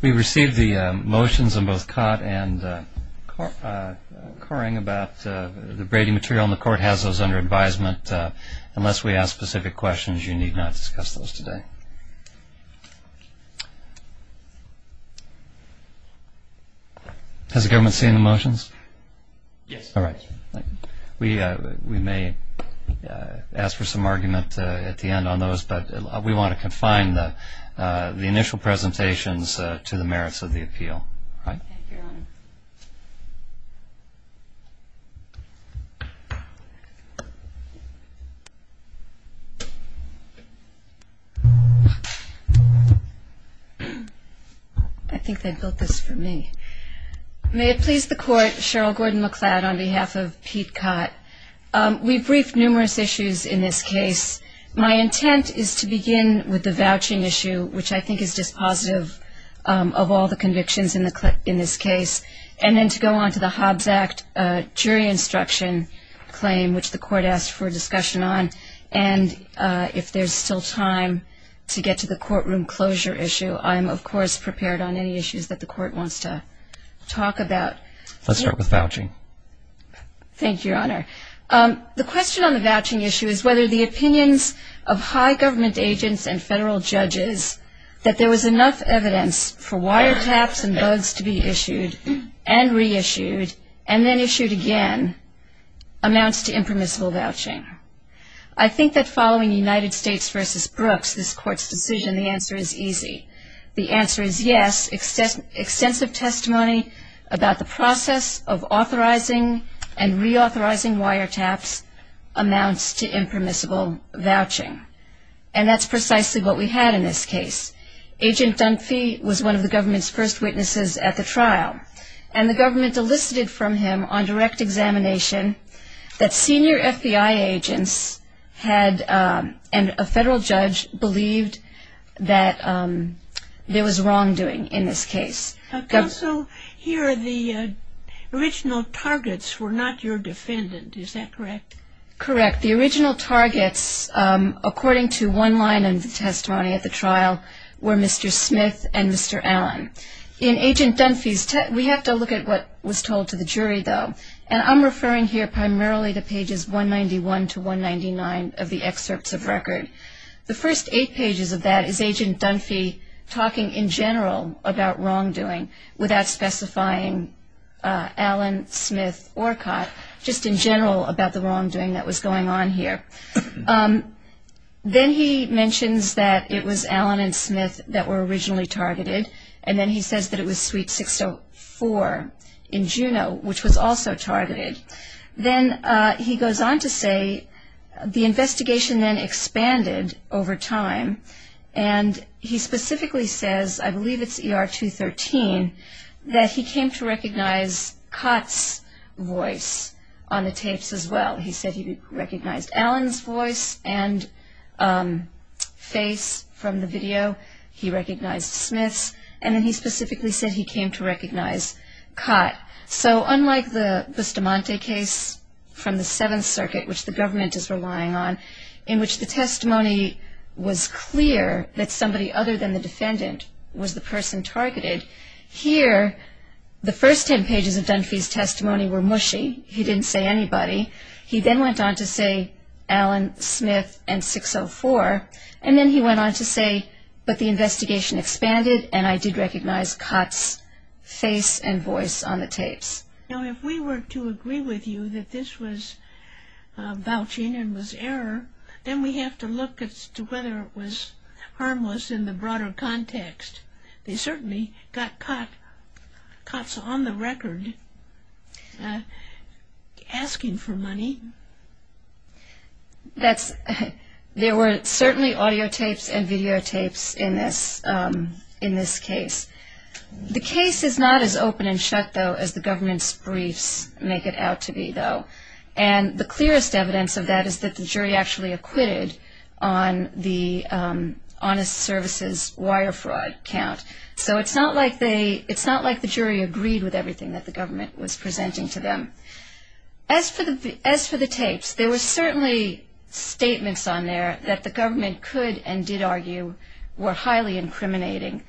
We received the motions on both Kott and Coring about the braiding material, and the court has those under advisement. Unless we ask specific questions, you need not discuss those today. Has the government seen the motions? Yes. All right. We may ask for some argument at the end on those, but we want to confine the initial presentations to the merits of the appeal. I think they built this for me. May it please the court, Cheryl Gordon-McLeod on behalf of Pete Kott. We briefed numerous issues in this case. My intent is to begin with the vouching issue, which I think is dispositive of all the convictions in this case, and then to go on to the Hobbs Act jury instruction claim, which the court asked for discussion on. And if there's still time to get to the courtroom closure issue, I'm of to talk about. Let's start with vouching. Thank you, Your Honor. The question on the vouching issue is whether the opinions of high government agents and federal judges that there was enough evidence for wiretaps and bugs to be issued and reissued and then issued again amounts to impermissible vouching. I think that following United States v. Brooks, this court's decision, the answer is easy. The answer is yes. Extensive testimony about the process of authorizing and reauthorizing wiretaps amounts to impermissible vouching. And that's precisely what we had in this case. Agent Dunphy was one of the government's first witnesses at the trial, and the government elicited from him on direct examination that he believed that there was wrongdoing in this case. Counsel, here the original targets were not your defendant. Is that correct? Correct. The original targets, according to one line in the testimony at the trial, were Mr. Smith and Mr. Allen. In Agent Dunphy's testimony, we have to look at what was told to the jury, though, and I'm referring here primarily to pages 191 to 199 of the excerpts of record. The first eight pages of that is Agent Dunphy talking in general about wrongdoing without specifying Allen, Smith, or Cott, just in general about the wrongdoing that was going on here. Then he mentions that it was Allen and Smith that were originally targeted, and then he says that it was suite 604 in 191. Then he goes on to say the investigation then expanded over time, and he specifically says, I believe it's ER 213, that he came to recognize Cott's voice on the tapes as well. He said he recognized Allen's voice and face from the video. He recognized Smith's, and then he specifically said he came to recognize Cott. So unlike the Bustamante case from the Seventh Circuit, which the government is relying on, in which the testimony was clear that somebody other than the defendant was the person targeted, here, the first ten pages of Dunphy's testimony were mushy. He didn't say anybody. He then went on to say Allen, Smith, and 604, and then he went on to say, but the investigation expanded, and I did recognize Cott's face and voice on the tapes. Now, if we were to agree with you that this was vouching and was error, then we have to look as to whether it was harmless in the broader context. They certainly got Cott's on the record asking for money. There were certainly audiotapes and videotapes in this case. The case is not as open and shut, though, as the government's briefs make it out to be, though, and the clearest evidence of that is that the jury actually acquitted on the honest services wire fraud count. So it's not like the jury agreed with everything that the government was presenting to them. As for the tapes, there were certainly statements on there that the government could and did argue were highly incriminating,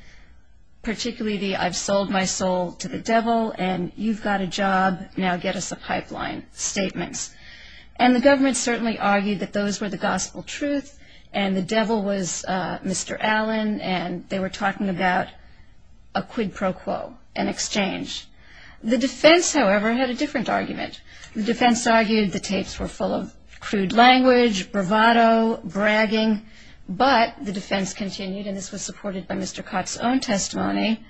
particularly the I've sold my soul to the devil and you've got a job, now get us a pipeline statements, and the government certainly argued that those were the gospel truth and the devil was Mr. Allen and they were talking about a quid pro quo, an exchange. The defense, however, had a different argument. The defense argued the tapes were full of crude language, bravado, bragging, but the defense continued and this was supported by Mr. Cott's own testimony.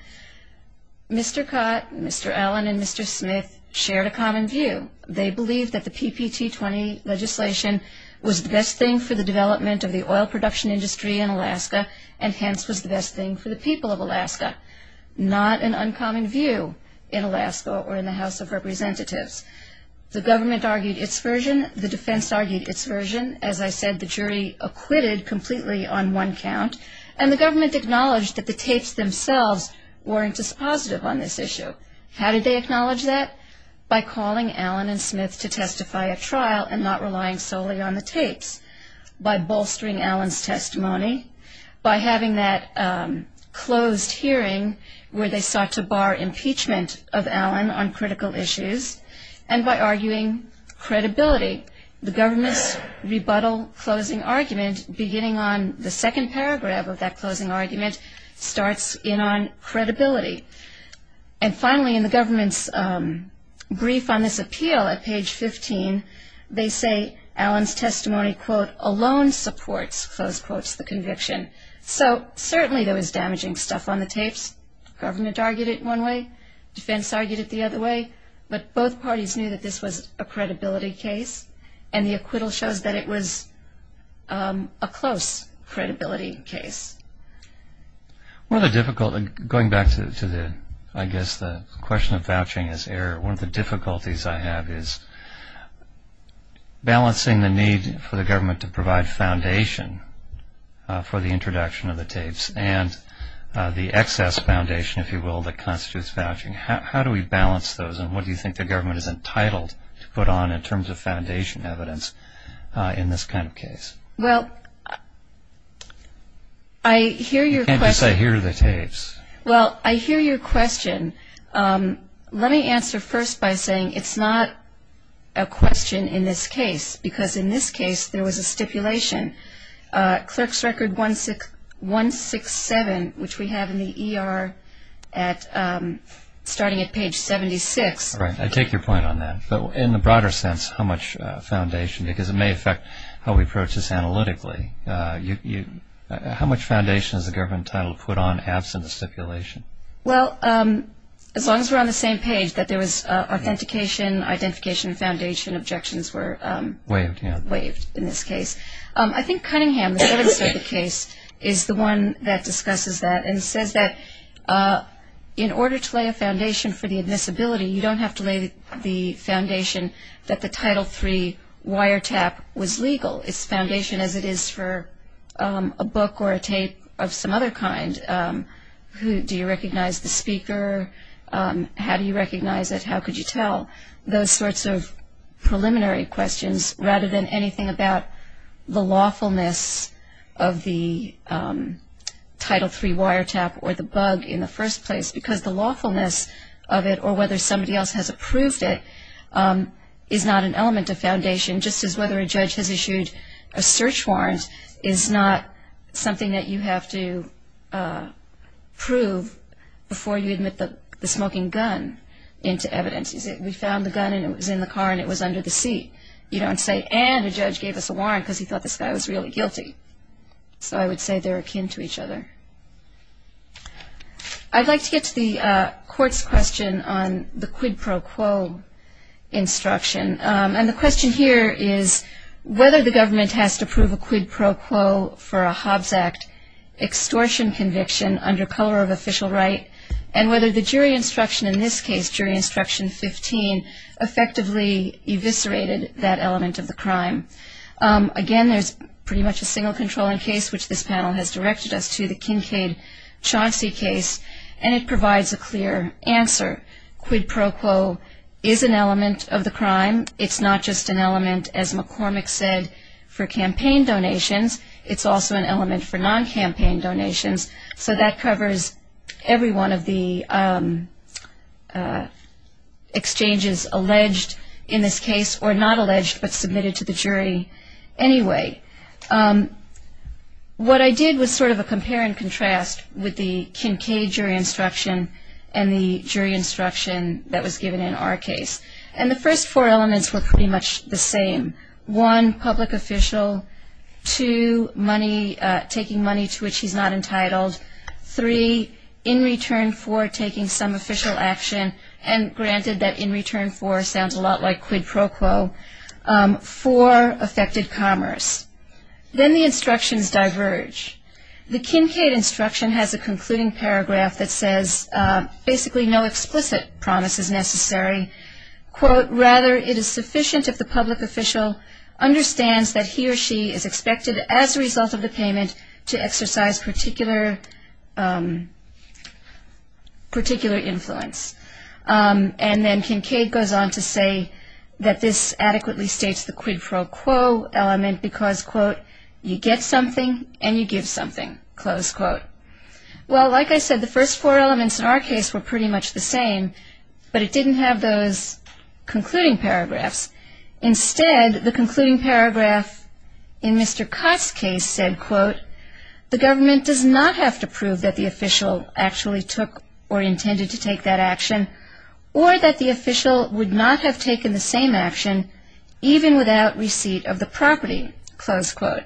Mr. Cott, Mr. Allen and Mr. Smith shared a common view. They believed that the PPT 20 legislation was the best thing for the development of the oil production industry in Alaska and hence was the best thing for the people of Alaska. This was an uncommon view in Alaska or in the House of Representatives. The government argued its version. The defense argued its version. As I said, the jury acquitted completely on one count and the government acknowledged that the tapes themselves weren't dispositive on this issue. How did they acknowledge that? By calling Allen and Smith to testify at trial and not relying solely on the tapes. By bolstering Allen's testimony, by having that closed hearing where they sought to bar impeachment of Allen on critical issues and by arguing credibility. The government's rebuttal closing argument, beginning on the second paragraph of that closing argument, starts in on credibility. And finally, in the government's brief on this appeal at page 15, they say Allen's testimony, quote, alone supports, close quotes, the conviction. So certainly there was damaging stuff on the tapes. Government argued it one way. Defense argued it the other way. But both parties knew that this was a credibility case and the acquittal shows that it was a close credibility case. Going back to the question of vouching as error, one of the difficulties I have is balancing the need for the government to provide foundation for the introduction of the tapes and the excess foundation, if you will, that constitutes vouching. How do we balance those and what do you think the government is entitled to put on in terms of foundation evidence in this kind of case? Well, I hear your question. You can't just say, here are the tapes. Well, I hear your question. Let me answer first by saying it's not a question in this case, because in this case there was a stipulation. Clerk's Record 167, which we have in the ER at starting at page 76. Right. I take your point on that. But in the broader sense, how much foundation, because it may affect how we approach this analytically, how much foundation is the government entitled to put on absent the stipulation? Well, as long as we're on the same page, that there was authentication, identification, foundation, objections were waived in this case. I think Cunningham, the service of the case, is the one that discusses that and says that in order to lay a foundation for the admissibility, you don't have to lay the foundation that the Title III wiretap was legal. It's foundation as it is for a book or a tape of some other kind. Do you recognize the speaker? How do you recognize it? How could you tell? Those sorts of preliminary questions rather than anything about the lawfulness of the Title III wiretap or the bug in the first place, because the lawfulness of it or whether somebody else has approved it is not an element of foundation, just as whether a judge has issued a search warrant is not something that you have to prove before you admit the smoking gun into evidence. We found the gun and it was in the car and it was under the seat. You don't say, and a judge gave us a warrant because he thought this guy was really guilty. So I would say they're akin to each other. I'd like to get to the court's question on the quid pro quo instruction. And the question here is whether the government has to prove a quid pro quo for a Hobbs Act extortion conviction under color of official right and whether the jury instruction in this case, jury instruction 15, effectively eviscerated that element of the crime. Again, there's pretty much a single controlling case, which this panel has directed us to, the Kincaid-Chauncey case, and it provides a clear answer. Quid pro quo is an element of the crime. It's not just an element, as McCormick said, for campaign donations. It's also an element for non-campaign donations. So that covers every one of the exchanges alleged in this case, or not alleged but submitted to the jury anyway. What I did was sort of a compare and contrast with the Kincaid jury instruction and the jury instruction that was given in our case. And the first four elements were pretty much the same. One, public official. Two, money, taking money to which he's not entitled. Three, in return for taking some official action, and granted that in return for sounds a lot like quid pro quo. Four, affected commerce. Then the instructions in paragraph that says basically no explicit promise is necessary. Quote, rather it is sufficient if the public official understands that he or she is expected as a result of the payment to exercise particular influence. And then Kincaid goes on to say that this adequately states the quid pro quo element because, quote, you get something and you get something else. So like I said, the first four elements in our case were pretty much the same, but it didn't have those concluding paragraphs. Instead, the concluding paragraph in Mr. Cott's case said, quote, the government does not have to prove that the official actually took or intended to take that action, or that the official would not have taken the same action, even without receipt of the property, close quote.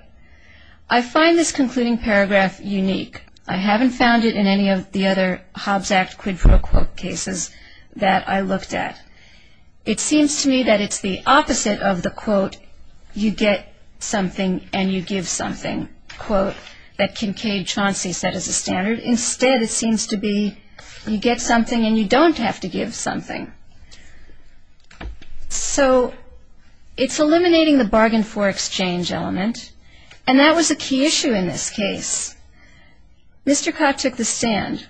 I find this concluding paragraph unique. I haven't found it in any of the other Hobbs Act quid pro quo cases that I looked at. It seems to me that it's the opposite of the quote, you get something and you give something, quote, that Kincaid Chauncey set as a standard. Instead, it seems to be you get something and you don't have to give something. So it's eliminating the bargain for exchange element, and that was a key issue in this case. Mr. Cott took the stand,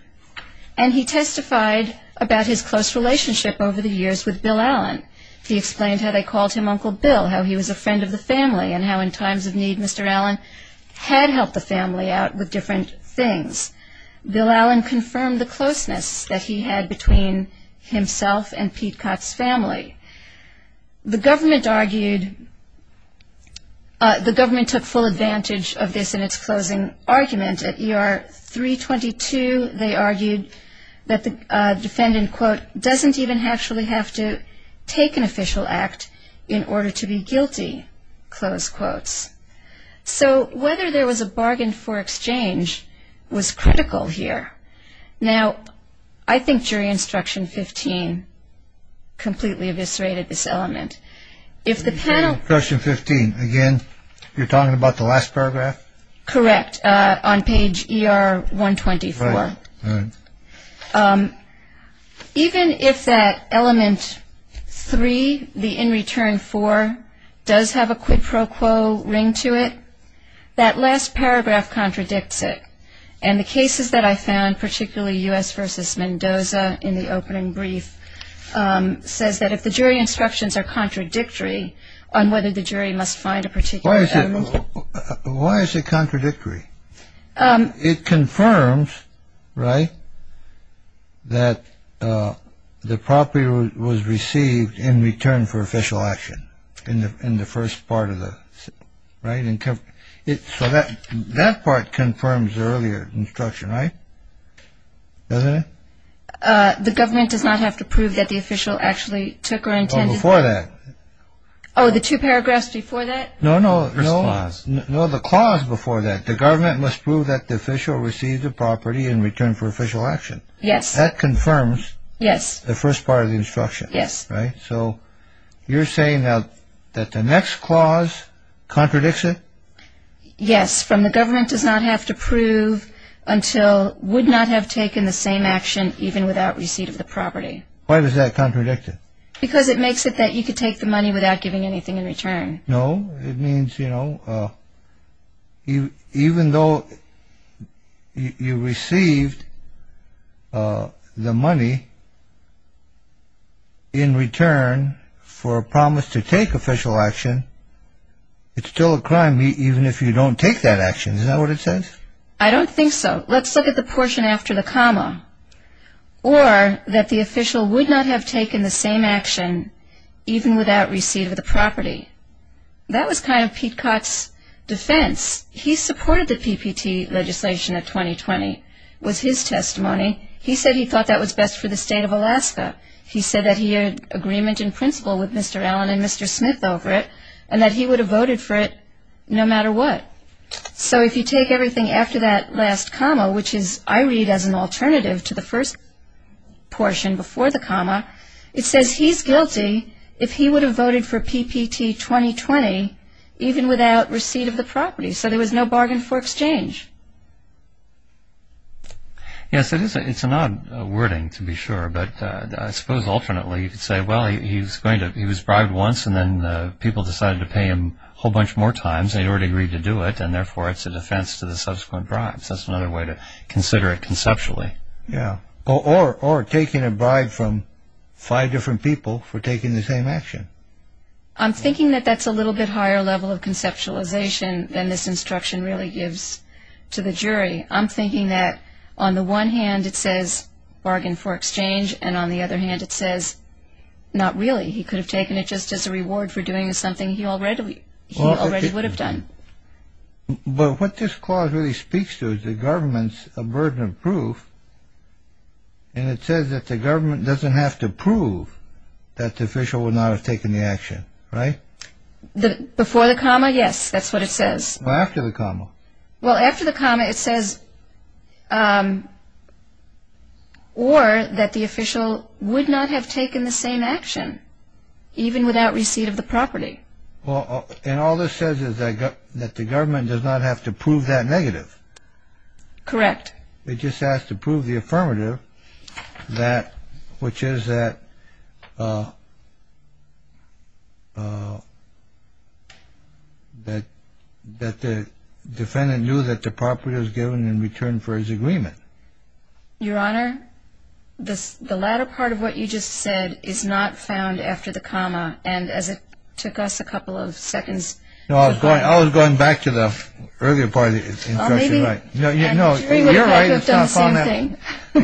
and he testified about his close relationship over the years with Bill Allen. He explained how they called him Uncle Bill, how he was a friend of the family, and how in times of need Mr. Allen had helped the family out with different things. Bill Allen confirmed the relationship that he had between himself and Pete Cott's family. The government argued, the government took full advantage of this in its closing argument. At ER 322, they argued that the defendant, quote, doesn't even actually have to take an official act in order to be guilty, close quotes. So whether there was a bargain for exchange was critical here. Now, I think jury instruction 15 completely eviscerated this element. If the panel... Instruction 15, again, you're talking about the last paragraph? Correct, on page ER 124. Even if that element 3, the in return 4, does have a quid pro quo ring to it, that last paragraph contradicts it. And the cases that I found, particularly U.S. v. Mendoza in the opening brief, says that if the jury instructions are contradictory on whether the jury must find a particular element... Why is it contradictory? It confirms, right, that the property was received in return for official action. So that part confirms the earlier instruction, right? Doesn't it? The government does not have to prove that the official actually took or intended... Oh, before that. Oh, the two paragraphs before that? No, no, no. First clause. No, the clause before that. The government must prove that the official received the property in return for official action. Yes. That confirms the first part of the instruction. Yes. So you're saying now that the next clause contradicts it? Yes, from the government does not have to prove until would not have taken the same action even without receipt of the property. Why was that contradicted? Because it makes it that you could take the money without giving anything in return. No, it means, you know, even though you received the money in return for official action, it's still a crime even if you don't take that action. Is that what it says? I don't think so. Let's look at the portion after the comma. Or that the official would not have taken the same action even without receipt of the property. That was kind of Pete Cott's defense. He supported the PPT legislation in 2020. It was his testimony. He said he thought that was best for the state of Alaska. He said that he had agreement in principle with Mr. Allen and Mr. Smith over it and that he would have voted for it no matter what. So if you take everything after that last comma, which is I read as an alternative to the first portion before the comma, it says he's guilty if he would have voted for PPT 2020 even without receipt of the property. So there was no bargain for exchange. Yes, it is. It's an odd wording to be sure. But I suppose alternately you could say, well, he was bribed once and then people decided to pay him a whole bunch more times. They had already agreed to do it and therefore it's a defense to the subsequent bribes. That's another way to consider it conceptually. Yeah. Or taking a bribe from five different people for taking the same action. I'm thinking that that's a little bit higher level of conceptualization than this instruction really gives to the jury. I'm thinking that on the one hand it says bargain for exchange and on the other hand it says not really. He could have taken it just as a reward for doing something he already would have done. But what this clause really speaks to is the government's burden of proof and it says that the government doesn't have to prove that the official would not have taken the action, right? Before the comma, yes. That's what it says. After the comma. Well, after the comma it says, or that the official would not have taken the same action even without receipt of the property. And all this says is that the government does not have to prove that negative. Correct. It just has to prove the affirmative, which is that the defendant knew that the property was given in return for his agreement. Your Honor, the latter part of what you just said is not found after the comma and as it took us a couple of seconds... No, I was going back to the earlier part of the instruction. You're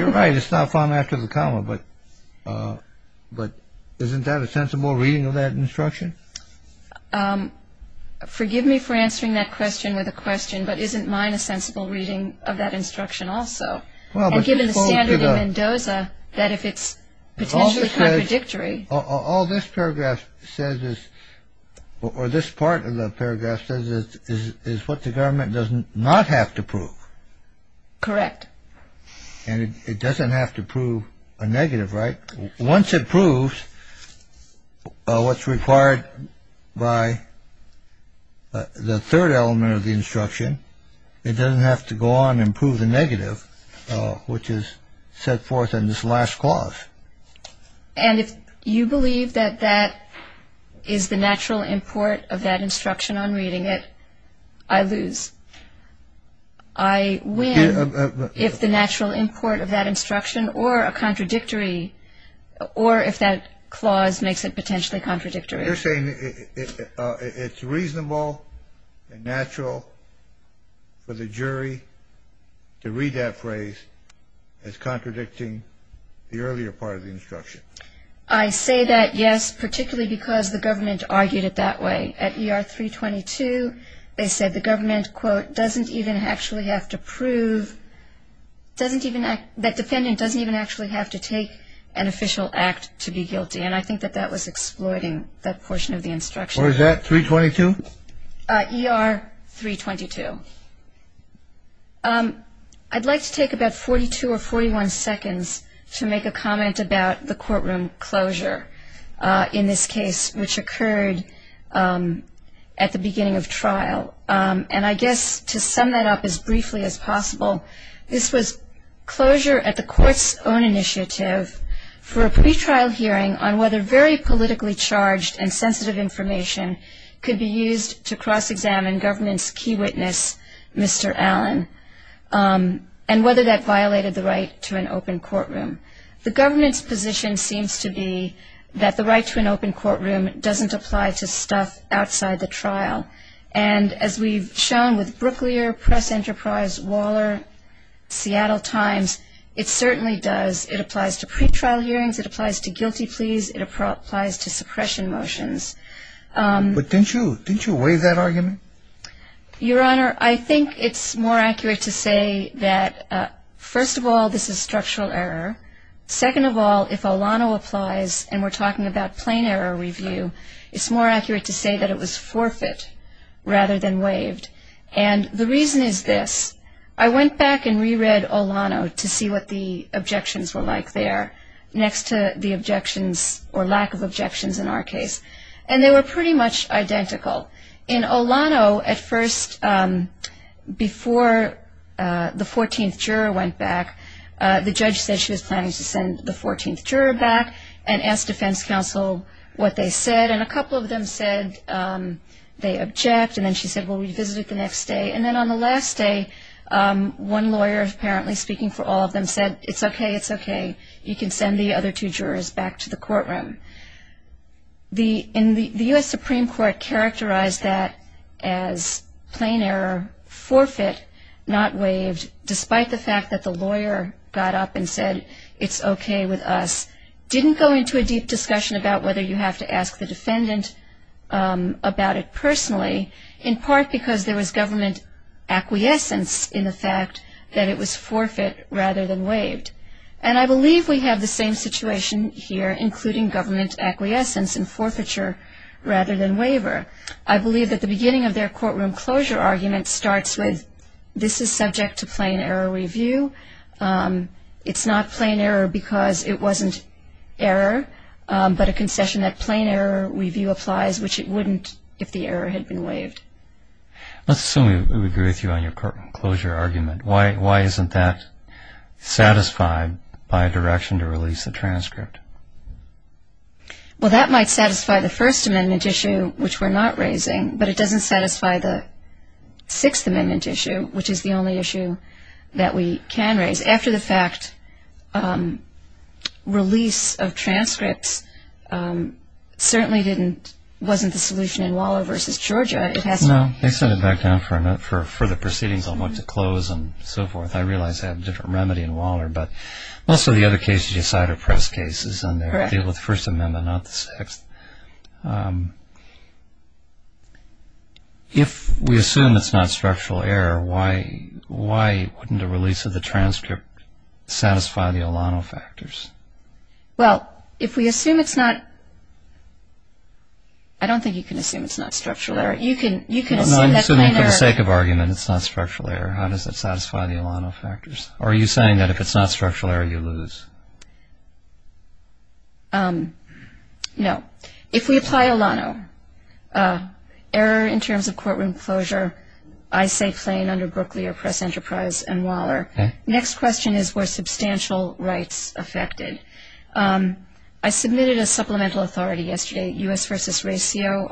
right, it's not found after the comma, but isn't that a sensible reading of that instruction? Forgive me for answering that question with a question, but isn't mine a sensible reading of that instruction also? And given the standard in Mendoza, that if it's potentially contradictory... All this paragraph says is, or this part of the paragraph says, is what the government does not have to prove. Correct. And it doesn't have to prove a negative, right? Once it proves what's required by the third element of the instruction, it doesn't have to go on and prove the negative, which is set forth in this last clause. And if you believe that that is the natural import of that instruction on reading it, I lose. I win if the natural import of that instruction, or a contradictory, or if that clause makes it potentially contradictory. You're saying it's reasonable and natural for the jury to read that phrase as contradicting the earlier part of the instruction? I say that, yes, particularly because the government argued it that way. At ER 322, they said the government, quote, doesn't even actually have to prove, that defendant doesn't even actually have to take an official act to be guilty. And I think that that was exploiting that portion of the instruction. Or is that 322? ER 322. I'd like to take about 42 or 41 seconds to make a comment about the courtroom closure in this case, which occurred at the beginning of trial. And I guess to sum that up as briefly as possible, this was closure at the court's own initiative for a pretrial hearing on whether very politically charged and sensitive information could be used against Mr. Allen, and whether that violated the right to an open courtroom. The government's position seems to be that the right to an open courtroom doesn't apply to stuff outside the trial. And as we've shown with Brooklier, Press Enterprise, Waller, Seattle Times, it certainly does. It applies to pretrial hearings, it applies to guilty pleas, it applies to suppression motions. But didn't you waive that argument? Your Honor, I think it's more accurate to say that, first of all, this is structural error. Second of all, if Olano applies, and we're talking about plain error review, it's more accurate to say that it was forfeit rather than waived. And the reason is this. I went back and reread Olano to see what the objections were like there, next to the objections or lack of objections in our case. And they were pretty much identical. In Olano, at first, before the 14th juror went back, the judge said she was planning to send the 14th juror back, and asked defense counsel what they said, and a couple of them said they object, and then she said, well, revisit it the next day. And then on the last day, one lawyer, apparently speaking for all of them, said, it's okay, it's okay. You can send the other two jurors back to the courtroom. The U.S. Supreme Court characterized that as plain error, forfeit, not waived, despite the fact that the lawyer got up and said, it's okay with us, didn't go into a deep discussion about whether you have to ask the defendant about it personally, in part because there was government acquiescence in the fact that it was forfeit rather than waived. And I believe we have the same situation here, including government acquiescence in forfeiture rather than waiver. I believe that the beginning of their courtroom closure argument starts with, this is subject to plain error review. It's not plain error because it wasn't error, but a concession that plain error review applies, which it wouldn't if the error had been waived. Let's assume we agree with you on your courtroom closure argument. Why isn't that satisfied by a direction to release a transcript? Well that might satisfy the First Amendment issue, which we're not raising, but it doesn't satisfy the Sixth Amendment issue, which is the only issue that we can raise. After the fact, release of transcripts certainly wasn't the solution in Waller v. Georgia. No, they sent it back down for further proceedings on what to close and so forth. I realize I have a different remedy in Waller, but most of the other cases you decide are press cases and they're dealing with the First Amendment, not the Sixth. If we assume it's not structural error, why wouldn't a release of the transcript satisfy the Alano factors? Well, if we assume it's not, I don't think you can assume it's not structural error. You can assume that plain error. No, I'm assuming for the sake of argument, it's not structural error. How does it satisfy the Alano factors? Are you saying that if it's not structural error, you lose? No. If we apply Alano, error in terms of courtroom closure, I say plain under Brooklyer, Press Enterprise, and Waller. Next question is were substantial rights affected? I submitted a supplemental authority yesterday, U.S. v. RACIO,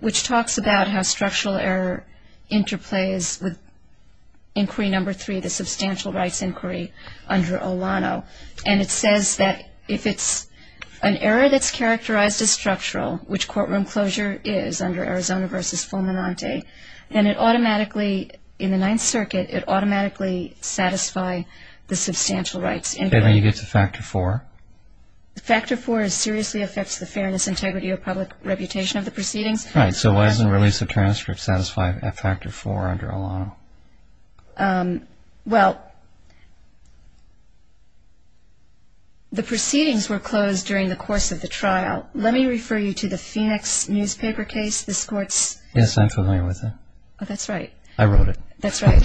which talks about how structural error interplays with Inquiry No. 3, the Substantial Rights Inquiry under Alano, and it says that if it's an error that's characterized as structural, which courtroom closure is under Arizona v. Fulminante, then it automatically, in the Ninth Circuit, it automatically satisfy the substantial rights inquiry. Okay, but you get to Factor 4? Factor 4 seriously affects the fairness, integrity, or public reputation of the proceedings. Right, so why doesn't a release of transcript satisfy Factor 4 under Alano? The proceedings were closed during the course of the trial. Let me refer you to the Phoenix newspaper case, this court's... Yes, I'm familiar with it. Oh, that's right. I wrote it. That's right.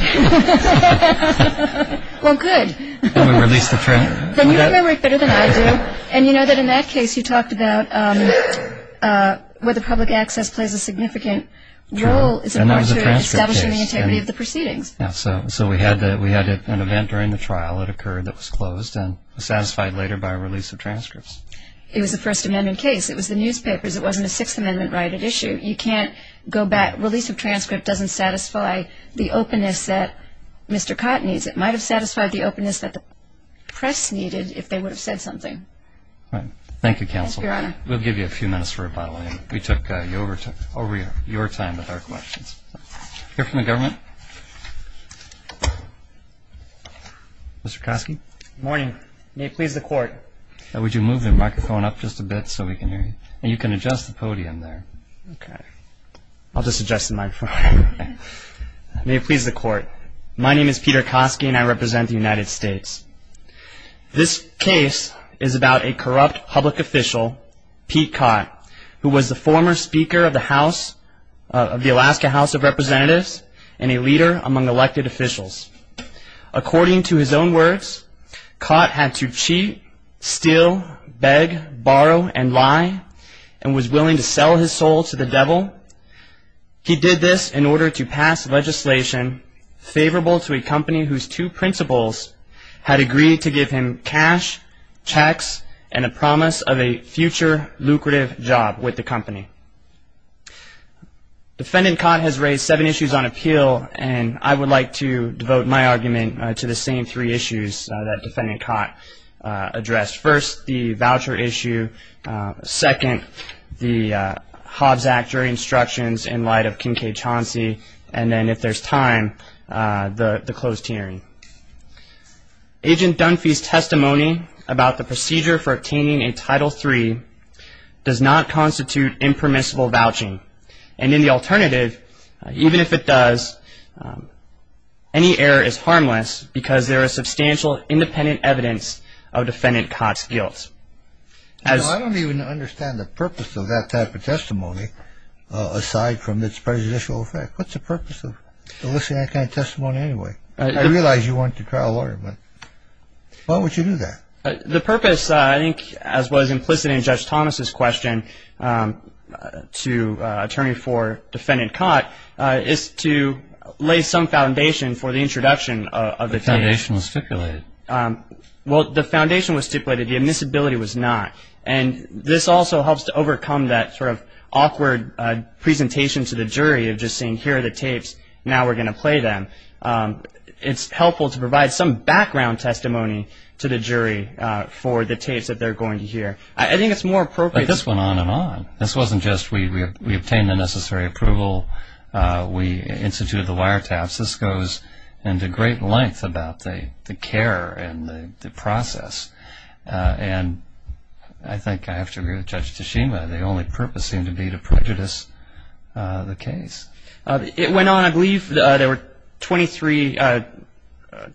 Well, good. Then we release the transcript. Then you have memory better than I do, and you know that in that case, you talked about whether public access plays a significant role in establishing the integrity of the proceedings. So we had an event during the trial that occurred that was closed and was satisfied later by release of transcripts. It was a First Amendment case. It was the newspapers. It wasn't a Sixth Amendment right at issue. You can't go back. Release of transcript doesn't satisfy the openness that Mr. Cotton needs. It might have satisfied the openness that the press needed if they would have said something. Right. Thank you, Counsel. Thank you, Your Honor. We'll give you a few minutes for rebuttal. We took over your time with our questions. Hear from the government? Mr. Koski? Good morning. May it please the Court. Would you move the microphone up just a bit so we can hear you? And you can adjust the podium there. Okay. I'll just adjust the microphone. May it please the Court. My name is Peter Koski, and I represent the United States. This case is about a corrupt public official, Pete Cott, who was the former speaker of the Alaska House of Representatives and a leader among elected officials. According to his own words, Cott had to cheat, steal, beg, borrow, and lie, and was willing to sell his soul to the devil. He did this in order to pass legislation favorable to a company whose two principals had agreed to give him cash, checks, and a promise of a future lucrative job with the company. Defendant Cott has raised seven issues on appeal, and I would like to devote my argument to the same three issues that Defendant Cott addressed. First, the voucher issue. Second, the Hobbs Act instructions in light of Kincaid Chauncey. And then, if there's time, the closed hearing. Agent Dunphy's testimony about the procedure for obtaining a Title III does not constitute impermissible vouching. And in the alternative, even if it does, any error is harmless because there is substantial independent evidence of Defendant Cott's guilt. I don't even understand the purpose of that type of testimony, aside from its prejudicial effect. What's the purpose of eliciting that kind of testimony anyway? I realize you want to trial a lawyer, but why would you do that? The purpose, I think, as was implicit in Judge Thomas's question to Attorney for Defendant Cott, is to lay some foundation for the introduction of the foundation. The foundation was stipulated. Well, the foundation was stipulated. The admissibility was not. And this also helps to overcome that sort of awkward presentation to the jury of just saying, here are the tapes, now we're going to play them. It's helpful to provide some background testimony to the jury for the tapes that they're going to hear. I think it's more appropriate. But this went on and on. This wasn't just, we obtained the necessary approval, we instituted the wiretaps. This goes into great length about the care and the process. And I think I have to agree with Judge Tashima, the only purpose seemed to be to prejudice the case. It went on, I believe, there were 23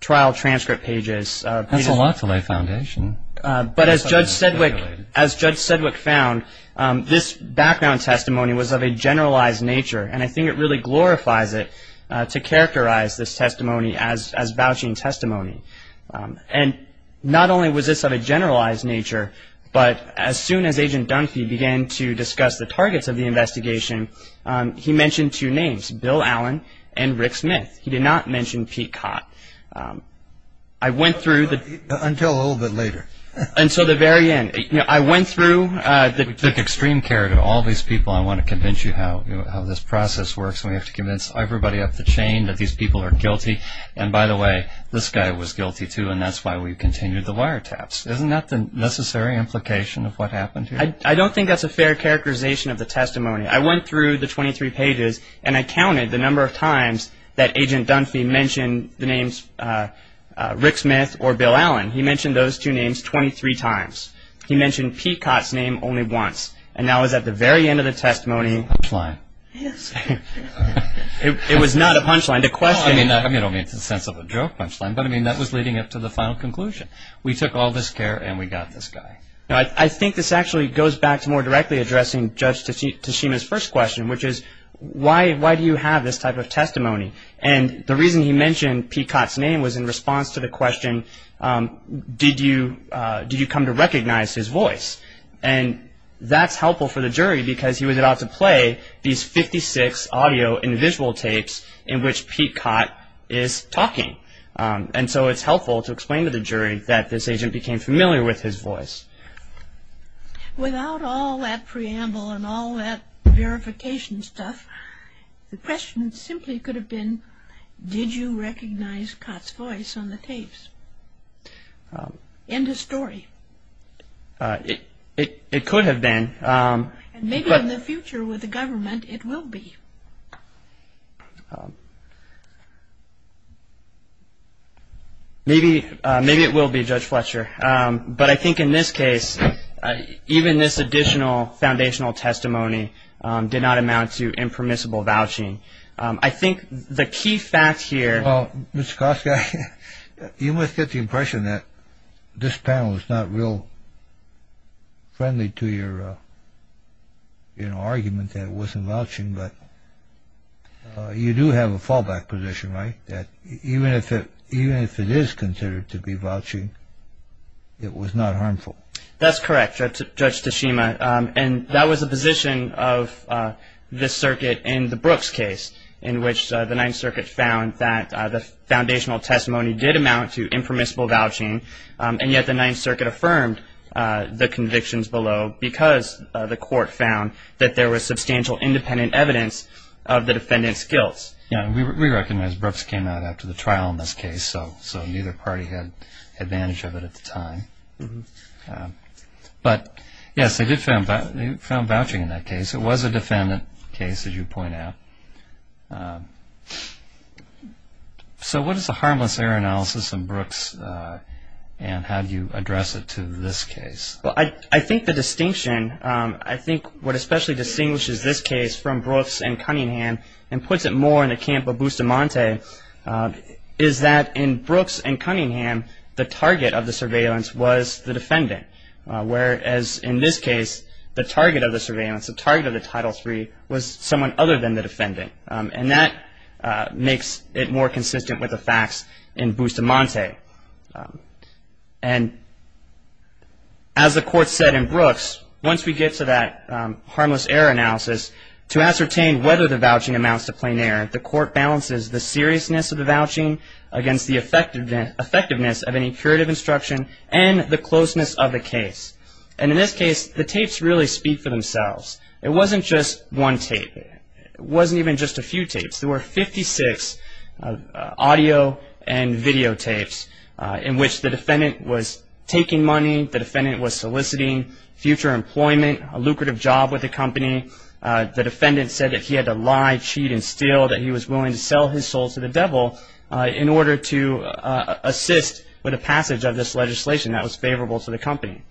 trial transcript pages. That's a lot to lay foundation. But as Judge Sedgwick found, this background testimony was of a generalized nature, and I think it really glorifies it to characterize this testimony as vouching testimony. And not only was this of a generalized nature, but as soon as Agent Dunphy began to discuss the targets of the investigation, he mentioned two names, Bill Allen and Rick Smith. He did not mention Pete Cott. I went through the- Until a little bit later. Until the very end. I went through- We took extreme care to all these people. I want to convince you how this process works, and we have to convince everybody up the chain that these people are guilty. And by the way, this guy was guilty too, and that's why we continued the wiretaps. Isn't that the necessary implication of what happened here? I don't think that's a fair characterization of the testimony. I went through the 23 pages, and I counted the number of times that Agent Dunphy mentioned the names Rick Smith or Bill Allen. He mentioned those two names 23 times. He mentioned Pete Cott's name only once, and that was at the very end of the testimony- Punchline. Yes. It was not a punchline. The question- I mean, it's in the sense of a joke punchline, but that was leading up to the final conclusion. We took all this care, and we got this guy. I think this actually goes back to more directly addressing Judge Tashima's first question, which is, why do you have this type of testimony? And the reason he mentioned Pete Cott's name was in response to the question, did you come to recognize his voice? And that's helpful for the jury, because he was about to play these 56 audio and visual tapes in which Pete Cott is talking. And so it's helpful to explain to the jury that this agent became familiar with his voice. Without all that preamble and all that verification stuff, the question simply could have been, did you recognize Cott's voice on the tapes? End of story. It could have been. And maybe in the future with the government, it will be. Maybe it will be, Judge Fletcher. But I think in this case, even this additional foundational testimony did not amount to impermissible vouching. I think the key fact here- Well, Mr. Koska, you must get the impression that this panel is not real friendly to your argument that it wasn't vouching, but you do have a fallback position, right? That even if it is considered to be vouching, it was not harmful. That's correct, Judge Tashima. And that was a position of this circuit in the Brooks case, in which the Ninth Circuit found that the foundational testimony did amount to impermissible vouching, and yet the Ninth Circuit affirmed the convictions below because the court found that there was substantial independent evidence of the defendant's guilt. We recognize Brooks came out after the trial in this case, so neither party had advantage of it at the time. But yes, they did found vouching in that case. It was a defendant case, as you point out. So what is the harmless error analysis in Brooks and how do you address it to this case? I think the distinction, I think what especially distinguishes this case from Brooks and Cunningham and puts it more in the camp of Bustamante is that in Brooks and Cunningham, the target of the surveillance was the defendant, whereas in this case, the target of the surveillance, the target of the Title III was someone other than the defendant. And that makes it more consistent with the facts in Bustamante. And as the court said in Brooks, once we get to that harmless error analysis, to ascertain whether the vouching amounts to plain error, the court balances the seriousness of the vouching against the effectiveness of any curative instruction and the closeness of the case. And in this case, the tapes really speak for themselves. It wasn't just one tape. It wasn't even just a few tapes. There were 56 audio and video tapes in which the defendant was taking money, the defendant was soliciting future employment, a lucrative job with the company. The defendant said that he had to lie, cheat, and steal, that he was willing to sell his soul to the devil in order to assist with the passage of this legislation that was favorable to the company.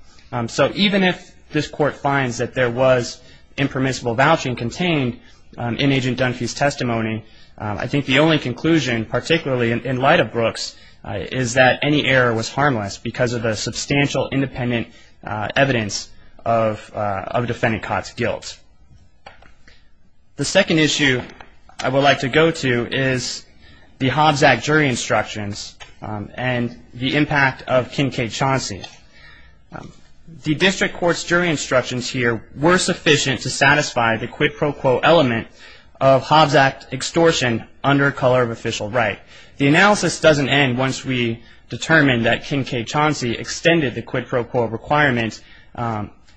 So even if this court finds that there was impermissible vouching contained in Agent Dunphy's testimony, I think the only conclusion, particularly in light of Brooks, is that any error was harmless because of the substantial independent evidence of the defendant caught to guilt. The second issue I would like to go to is the Hobbs Act jury instructions and the impact of Kincaid-Chauncey. The district court's jury instructions here were sufficient to satisfy the quid pro quo element of Hobbs Act extortion under color of official right. The analysis doesn't end once we determine that Kincaid-Chauncey extended the quid pro quo requirement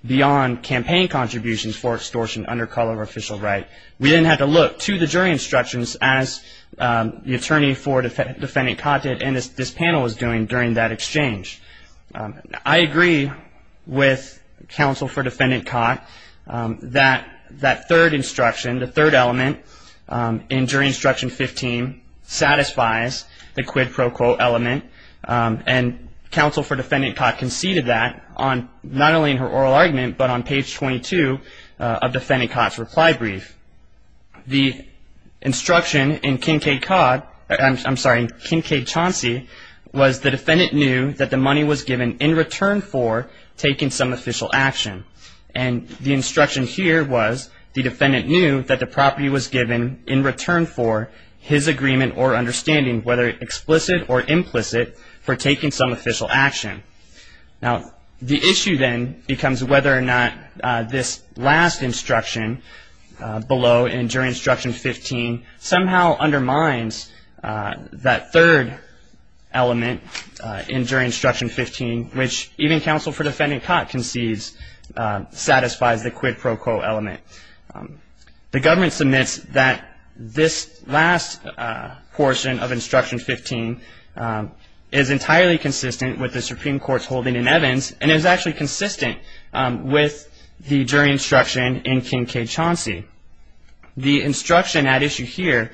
beyond campaign contributions for extortion under color of official right. We then had to look to the jury instructions as the attorney for defendant Cotted and as this panel was doing during that exchange. I agree with counsel for defendant Cott that that third instruction, the third element in jury instruction 15 satisfies the quid pro quo element and counsel for defendant Cott conceded that on not only in her oral argument but on page 22 of defendant Cott's reply brief. The instruction in Kincaid-Chauncey was the defendant knew that the money was given in return for taking some official action and the instruction here was the defendant knew that the property was given in return for his agreement or understanding whether explicit or implicit for taking some official action. Now the issue then becomes whether or not this last instruction below in jury instruction 15 somehow undermines that third element in jury instruction 15 which even counsel for defendant Cott concedes satisfies the quid pro quo element. The government submits that this last portion of instruction 15 is entirely consistent with the Supreme Court's holding in Evans and is actually consistent with the jury instruction in Kincaid-Chauncey. The instruction at issue here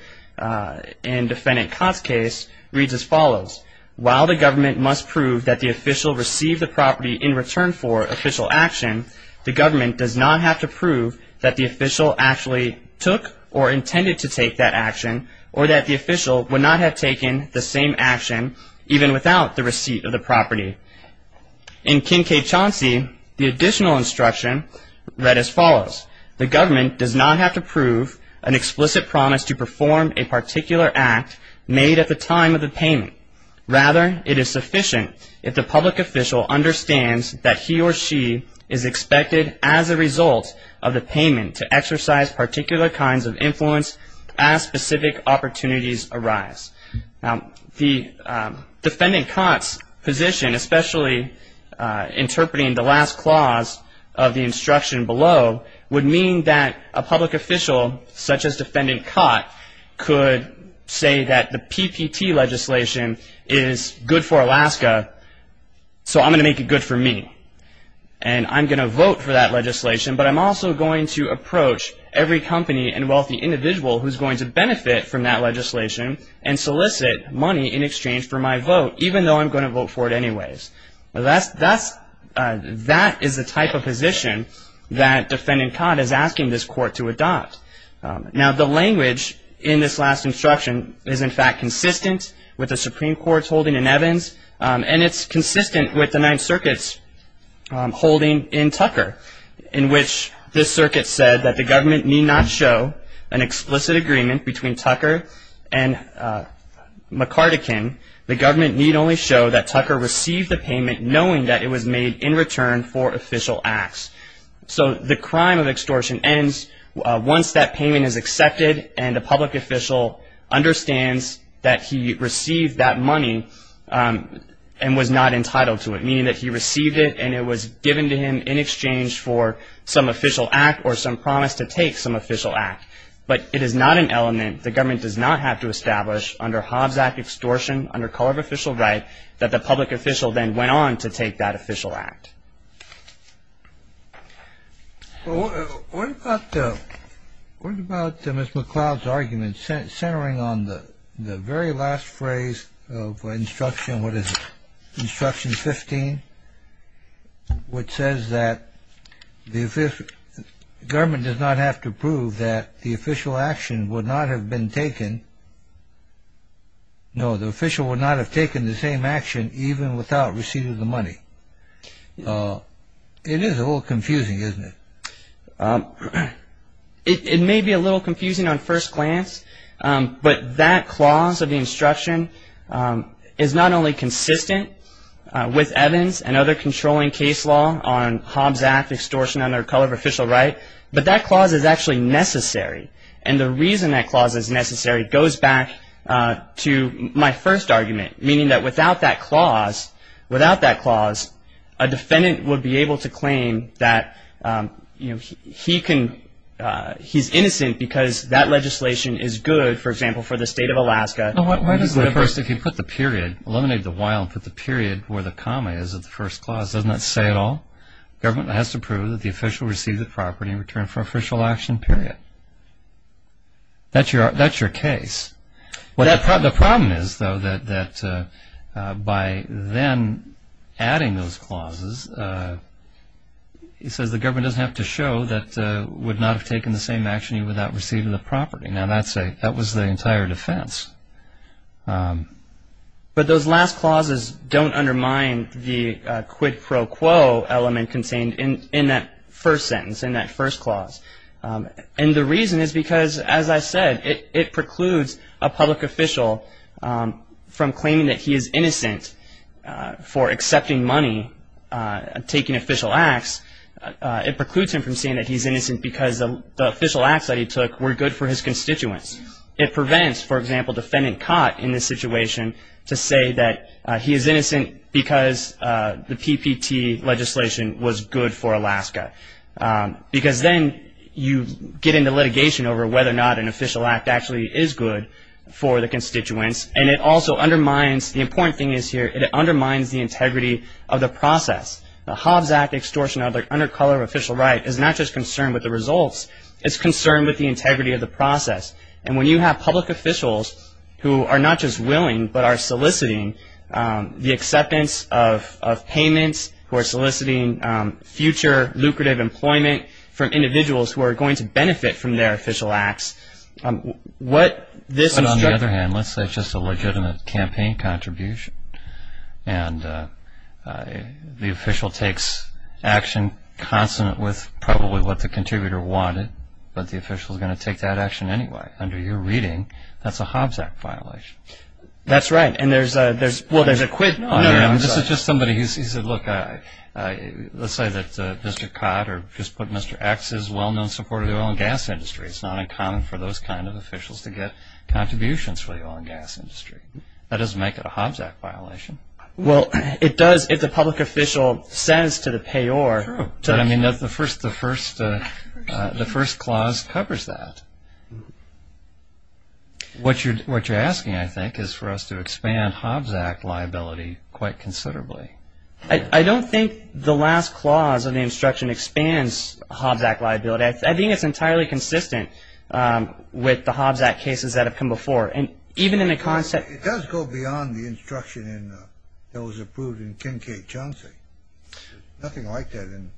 in defendant Cott's case reads as follows. While the government must prove that the official received the property in return for official action, the government does not have to prove that the official actually took or intended to take that action or that the official would not have taken the same action even without the receipt of the property. In Kincaid-Chauncey the additional instruction read as follows. The government does not have to prove an explicit promise to perform a particular act made at the time of the payment. Rather it is sufficient if the public official understands that he or she is expected as a result of the payment to exercise particular kinds of influence as specific opportunities arise. Now the defendant Cott's position especially interpreting the last clause of the instruction below would mean that a public official such as defendant Cott could say that the PPT legislation is good for Alaska so I'm going to make it good for me. And I'm going to vote for that legislation but I'm also going to approach every company and wealthy individual who's going to benefit from that legislation and solicit money in exchange for my vote even though I'm going to vote for it anyways. That is the type of position that defendant Cott is asking this court to adopt. Now the language in this last instruction is in fact consistent with the Supreme Court's holding in Evans and it's consistent with the Ninth Circuit's holding in Tucker in which this circuit said that the government need not show an explicit agreement between Tucker and McCartykin. The government need only show that Tucker received the payment knowing that it was made in return for official acts. So the crime of extortion ends once that payment is accepted and the public official understands that he received that money and was not entitled to it meaning that he received it and it was an official act or some promise to take some official act. But it is not an element the government does not have to establish under Hobbs Act extortion under color of official right that the public official then went on to take that official act. What about Ms. McLeod's argument centering on the very last phrase of instruction 15 which says that the government does not have to prove that the official action would not have been taken, no the official would not have taken the same action even without receiving the money. It is a little confusing isn't it? It may be a little confusing on first glance but that clause of the instruction is not only consistent with evidence and other controlling case law on Hobbs Act extortion under color of official right but that clause is actually necessary and the reason that clause is necessary goes back to my first argument meaning that without that clause a defendant would be able to claim that he is innocent because that legislation is good for example for the state of Alaska. Well why does the first if you put the period, eliminate the while and put the period where the comma is at the first clause doesn't that say it all? Government has to prove that the official received the property in return for official action period. That's your case. The problem is though that by then adding those clauses he says the government doesn't have to show that would not have taken the same action even without receiving the property. Now that was the entire defense. But those last clauses don't undermine the quid pro quo element contained in that first sentence in that first clause and the reason is because as I said it precludes a public official from claiming that he is innocent for accepting money, taking official acts. It precludes him from saying that he is innocent because the official acts that he took were good for his constituents. It prevents for example defendant caught in this situation to say that he is innocent because the PPT legislation was good for Alaska. Because then you get into litigation over whether or not an official act actually is good for the constituents and it also undermines the important thing is here it undermines the integrity of the process. The Hobbs Act extortion under color of official right is not just concerned with the results it's concerned with the integrity of the process and when you have public officials who are not just willing but are soliciting the acceptance of payments, who are soliciting future lucrative employment from individuals who are going to benefit from their official acts what this On the other hand let's say it's just a legitimate campaign contribution and the official takes action consonant with probably what the contributor wanted but the official is going to take that action anyway. Under your reading that's a Hobbs Act violation. That's right and there's a there's well there's a quid on here I mean this is just somebody who's he said look let's say that Mr. Codd or just put Mr. X is well known supporter of the oil and gas industry it's not uncommon for those kind of officials to get contributions for the oil and gas industry. That doesn't make it a Hobbs Act violation. Well it does if the public official says to the payor to I mean that's the first the first the first clause covers that. What you're what you're asking I think is for us to expand Hobbs Act liability quite considerably. I don't think the last clause of the instruction expands Hobbs Act liability I think it's entirely consistent with the Hobbs Act cases that have come before and even in a concept it does go beyond the instruction in those approved in Kincaid-Chauncey. Nothing like that in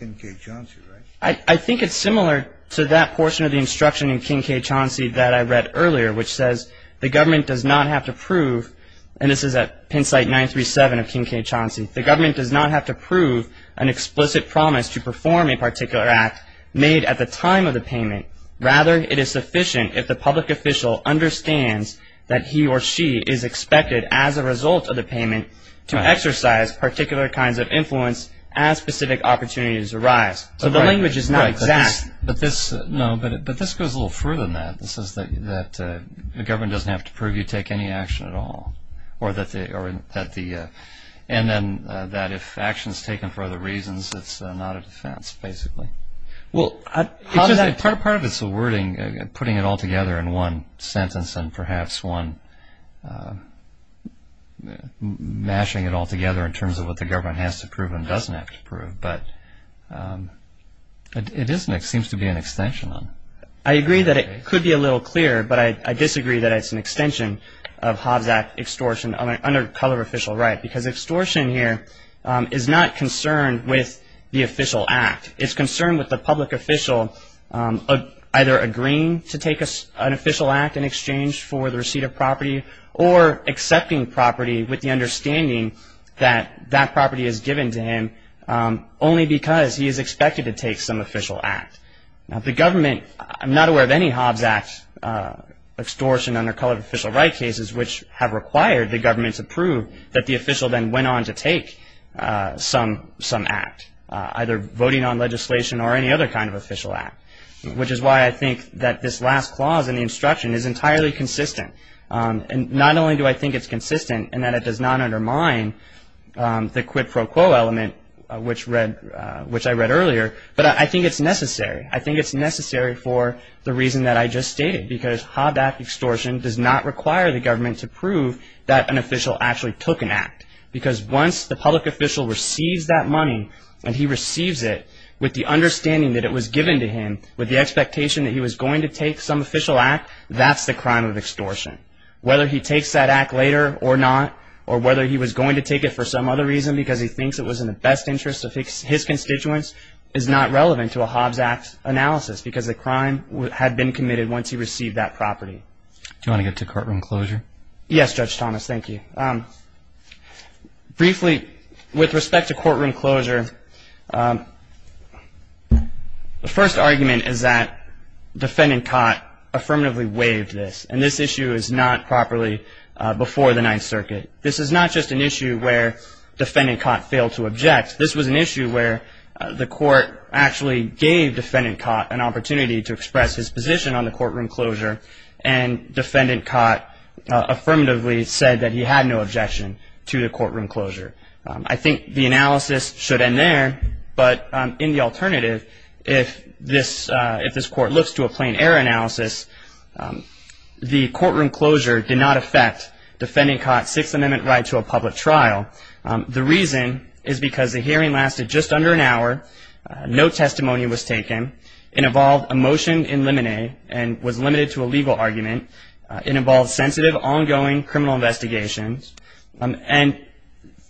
Kincaid-Chauncey right? I think it's similar to that portion of the instruction in Kincaid-Chauncey that I read earlier which says the government does not have to prove and this is at Penn site 937 of Kincaid-Chauncey the government does not have to prove an explicit promise to perform a particular act made at the time of the payment rather it is sufficient if the public official understands that he or she is expected as a result of the payment to exercise particular kinds of influence as specific opportunities arise so the language is not exact. But this no but this goes a little further than that this is that the government doesn't have to prove you take any action at all or that the and then that if action is taken for other reasons it's not a defense basically. Well part of it's a wording putting it all together in one sentence and perhaps one mashing it all together in terms of what the government has to prove and doesn't have to prove but it is and it seems to be an extension. I agree that it could be a little clearer but I disagree that it's an extension of Hobbs Act extortion under color official right because extortion here is not concerned with the official act it's concerned with the public official either agreeing to take an official act in exchange for the receipt of property or accepting property with the understanding that that property is given to him only because he is expected to take some official act. Now the government I'm not aware of any Hobbs Act extortion under color official right cases which have required the government to prove that the official then went on to take some act either voting on legislation or any other kind of official act which is why I think that this last clause in the instruction is entirely consistent and not only do I think it's consistent and that it does not undermine the quid pro quo element which I read earlier but I think it's necessary. I think it's necessary for the reason that I just stated because Hobbs Act extortion does not require the government to prove that an official actually took an act because once the public official receives that money and he receives it with the understanding that it was given to him with the expectation that he was going to take some official act that's the crime of extortion. Whether he takes that act later or not or whether he was going to take it for some other reason because he thinks it was in the best interest of his constituents is not relevant to a Hobbs Act analysis because the crime would have been committed once he received that property. Do you want to get to courtroom closure? Yes Judge Thomas thank you. Briefly with respect to courtroom closure the first argument is that defendant Cott affirmatively waived this and this issue is not properly before the Ninth Circuit. This is not just an issue where defendant Cott failed to object. This was an issue where the court actually gave defendant Cott an opportunity to express his position on the courtroom closure and defendant Cott affirmatively said that he had no objection to the courtroom closure. I think the analysis should end there but in the alternative if this court looks to a plain error analysis the courtroom closure did not affect defendant Cott's Sixth Amendment right to a public trial. The reason is because the hearing lasted just under an hour. No testimony was taken. It involved a motion in limine and was limited to a legal argument. It involved sensitive ongoing criminal investigations and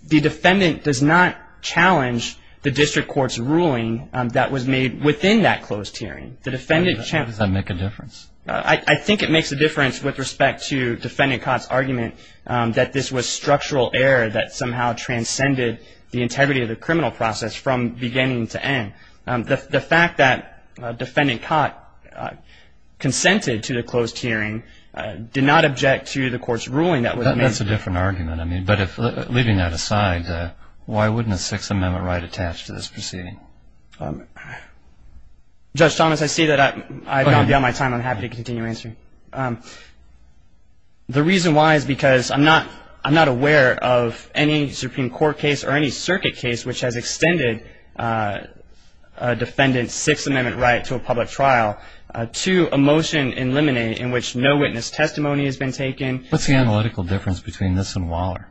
the defendant does not challenge the district court's ruling that was made within that closed hearing. Does that make a difference? I think it makes a difference with respect to defendant Cott's argument that this was structural error that somehow transcended the integrity of the criminal process from beginning to end. The fact that defendant Cott consented to the closed hearing did not object to the court's ruling that was made. That's a different argument. Leaving that aside, why wouldn't a Sixth Amendment right attach to this proceeding? Judge Thomas, I see that I've gone beyond my time and I'm happy to continue answering. The reason why is because I'm not aware of any Supreme Court case or any circuit case which has extended a defendant's Sixth Amendment right to a public trial to a motion in limine in which no witness testimony has been taken. What's the analytical difference between this and Waller?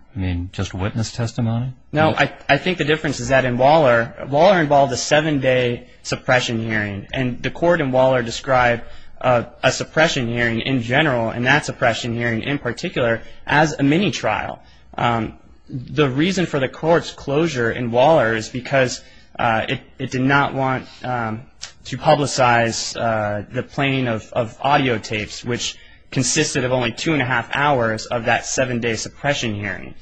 Just witness testimony? No, I think the difference is that in Waller, Waller involved a seven-day suppression hearing and the court in Waller described a suppression hearing in general and that suppression hearing in particular as a mini-trial. The reason for the court's closure in Waller is because it did not want to publicize the plain of audio tapes which consisted of only two and a half hours of that seven-day suppression hearing.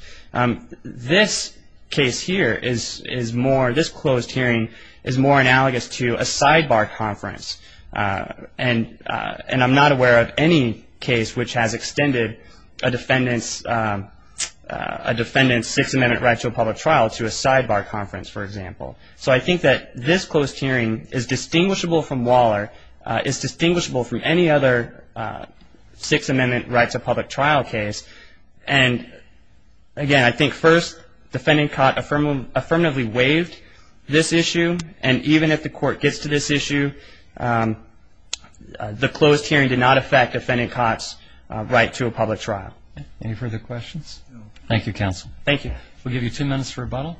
This case here is more, this closed hearing is more analogous to a sidebar conference and I'm not aware of any case which has extended a defendant's Sixth Amendment right to a public trial to a sidebar conference, for example. So I think that this closed hearing is distinguishable from Waller, is distinguishable from any other Sixth Amendment right to a public trial case. And again, I think first defendant caught affirmatively waived this issue and even if the court gets to this issue, the closed hearing did not affect defendant caught's right to a public trial. Any further questions? No. Thank you, counsel. Thank you. We'll give you two minutes for rebuttal.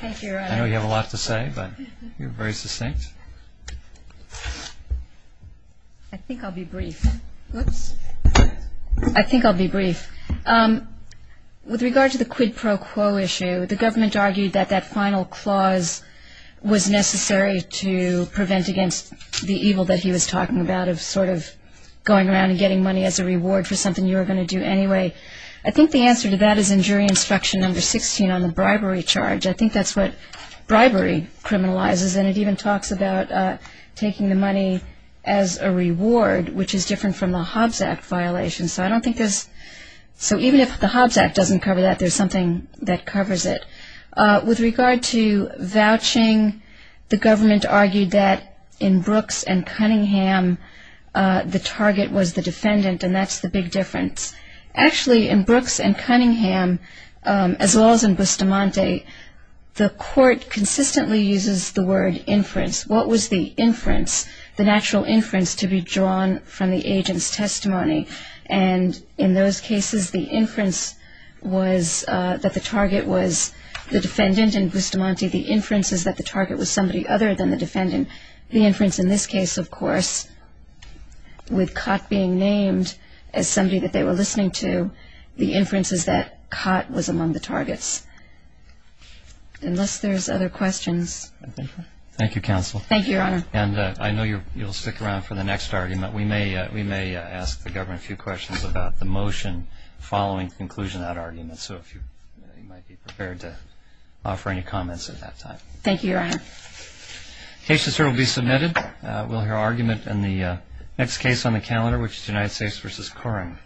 Thank you, Your Honor. I know you have a lot to say, but you're very succinct. I think I'll be brief. Oops. I think I'll be brief. With regard to the quid pro quo issue, the government argued that that final clause was necessary to prevent against the evil that he was talking about of sort of going around and getting money as a reward for something you were going to do anyway. I think the answer to that is in jury instruction number 16 on the bribery charge. I think that's what bribery criminalizes and it even talks about taking the money as a reward, which is different from the Hobbs Act violation. So even if the Hobbs Act doesn't cover that, there's something that covers it. With regard to vouching, the government argued that in Brooks and Cunningham, the target was the defendant and that's the big difference. Actually, in Brooks and Cunningham, as well as in Bustamante, the court consistently uses the word inference. What was the inference, the natural inference to be drawn from the agent's testimony? And in those cases, the inference was that the target was the defendant and in Bustamante the inference is that the target was somebody other than the defendant. The inference in this case, of course, with Cott being named as somebody that they were listening to, the inference is that Cott was among the targets. Unless there's other questions. Thank you, Counsel. Thank you, Your Honor. And I know you'll stick around for the next argument. We may ask the government a few questions about the motion following conclusion of that argument. So if you might be prepared to offer any comments at that time. Thank you, Your Honor. The case is here to be submitted. We'll hear argument in the next case on the calendar, which is United States v. Coring.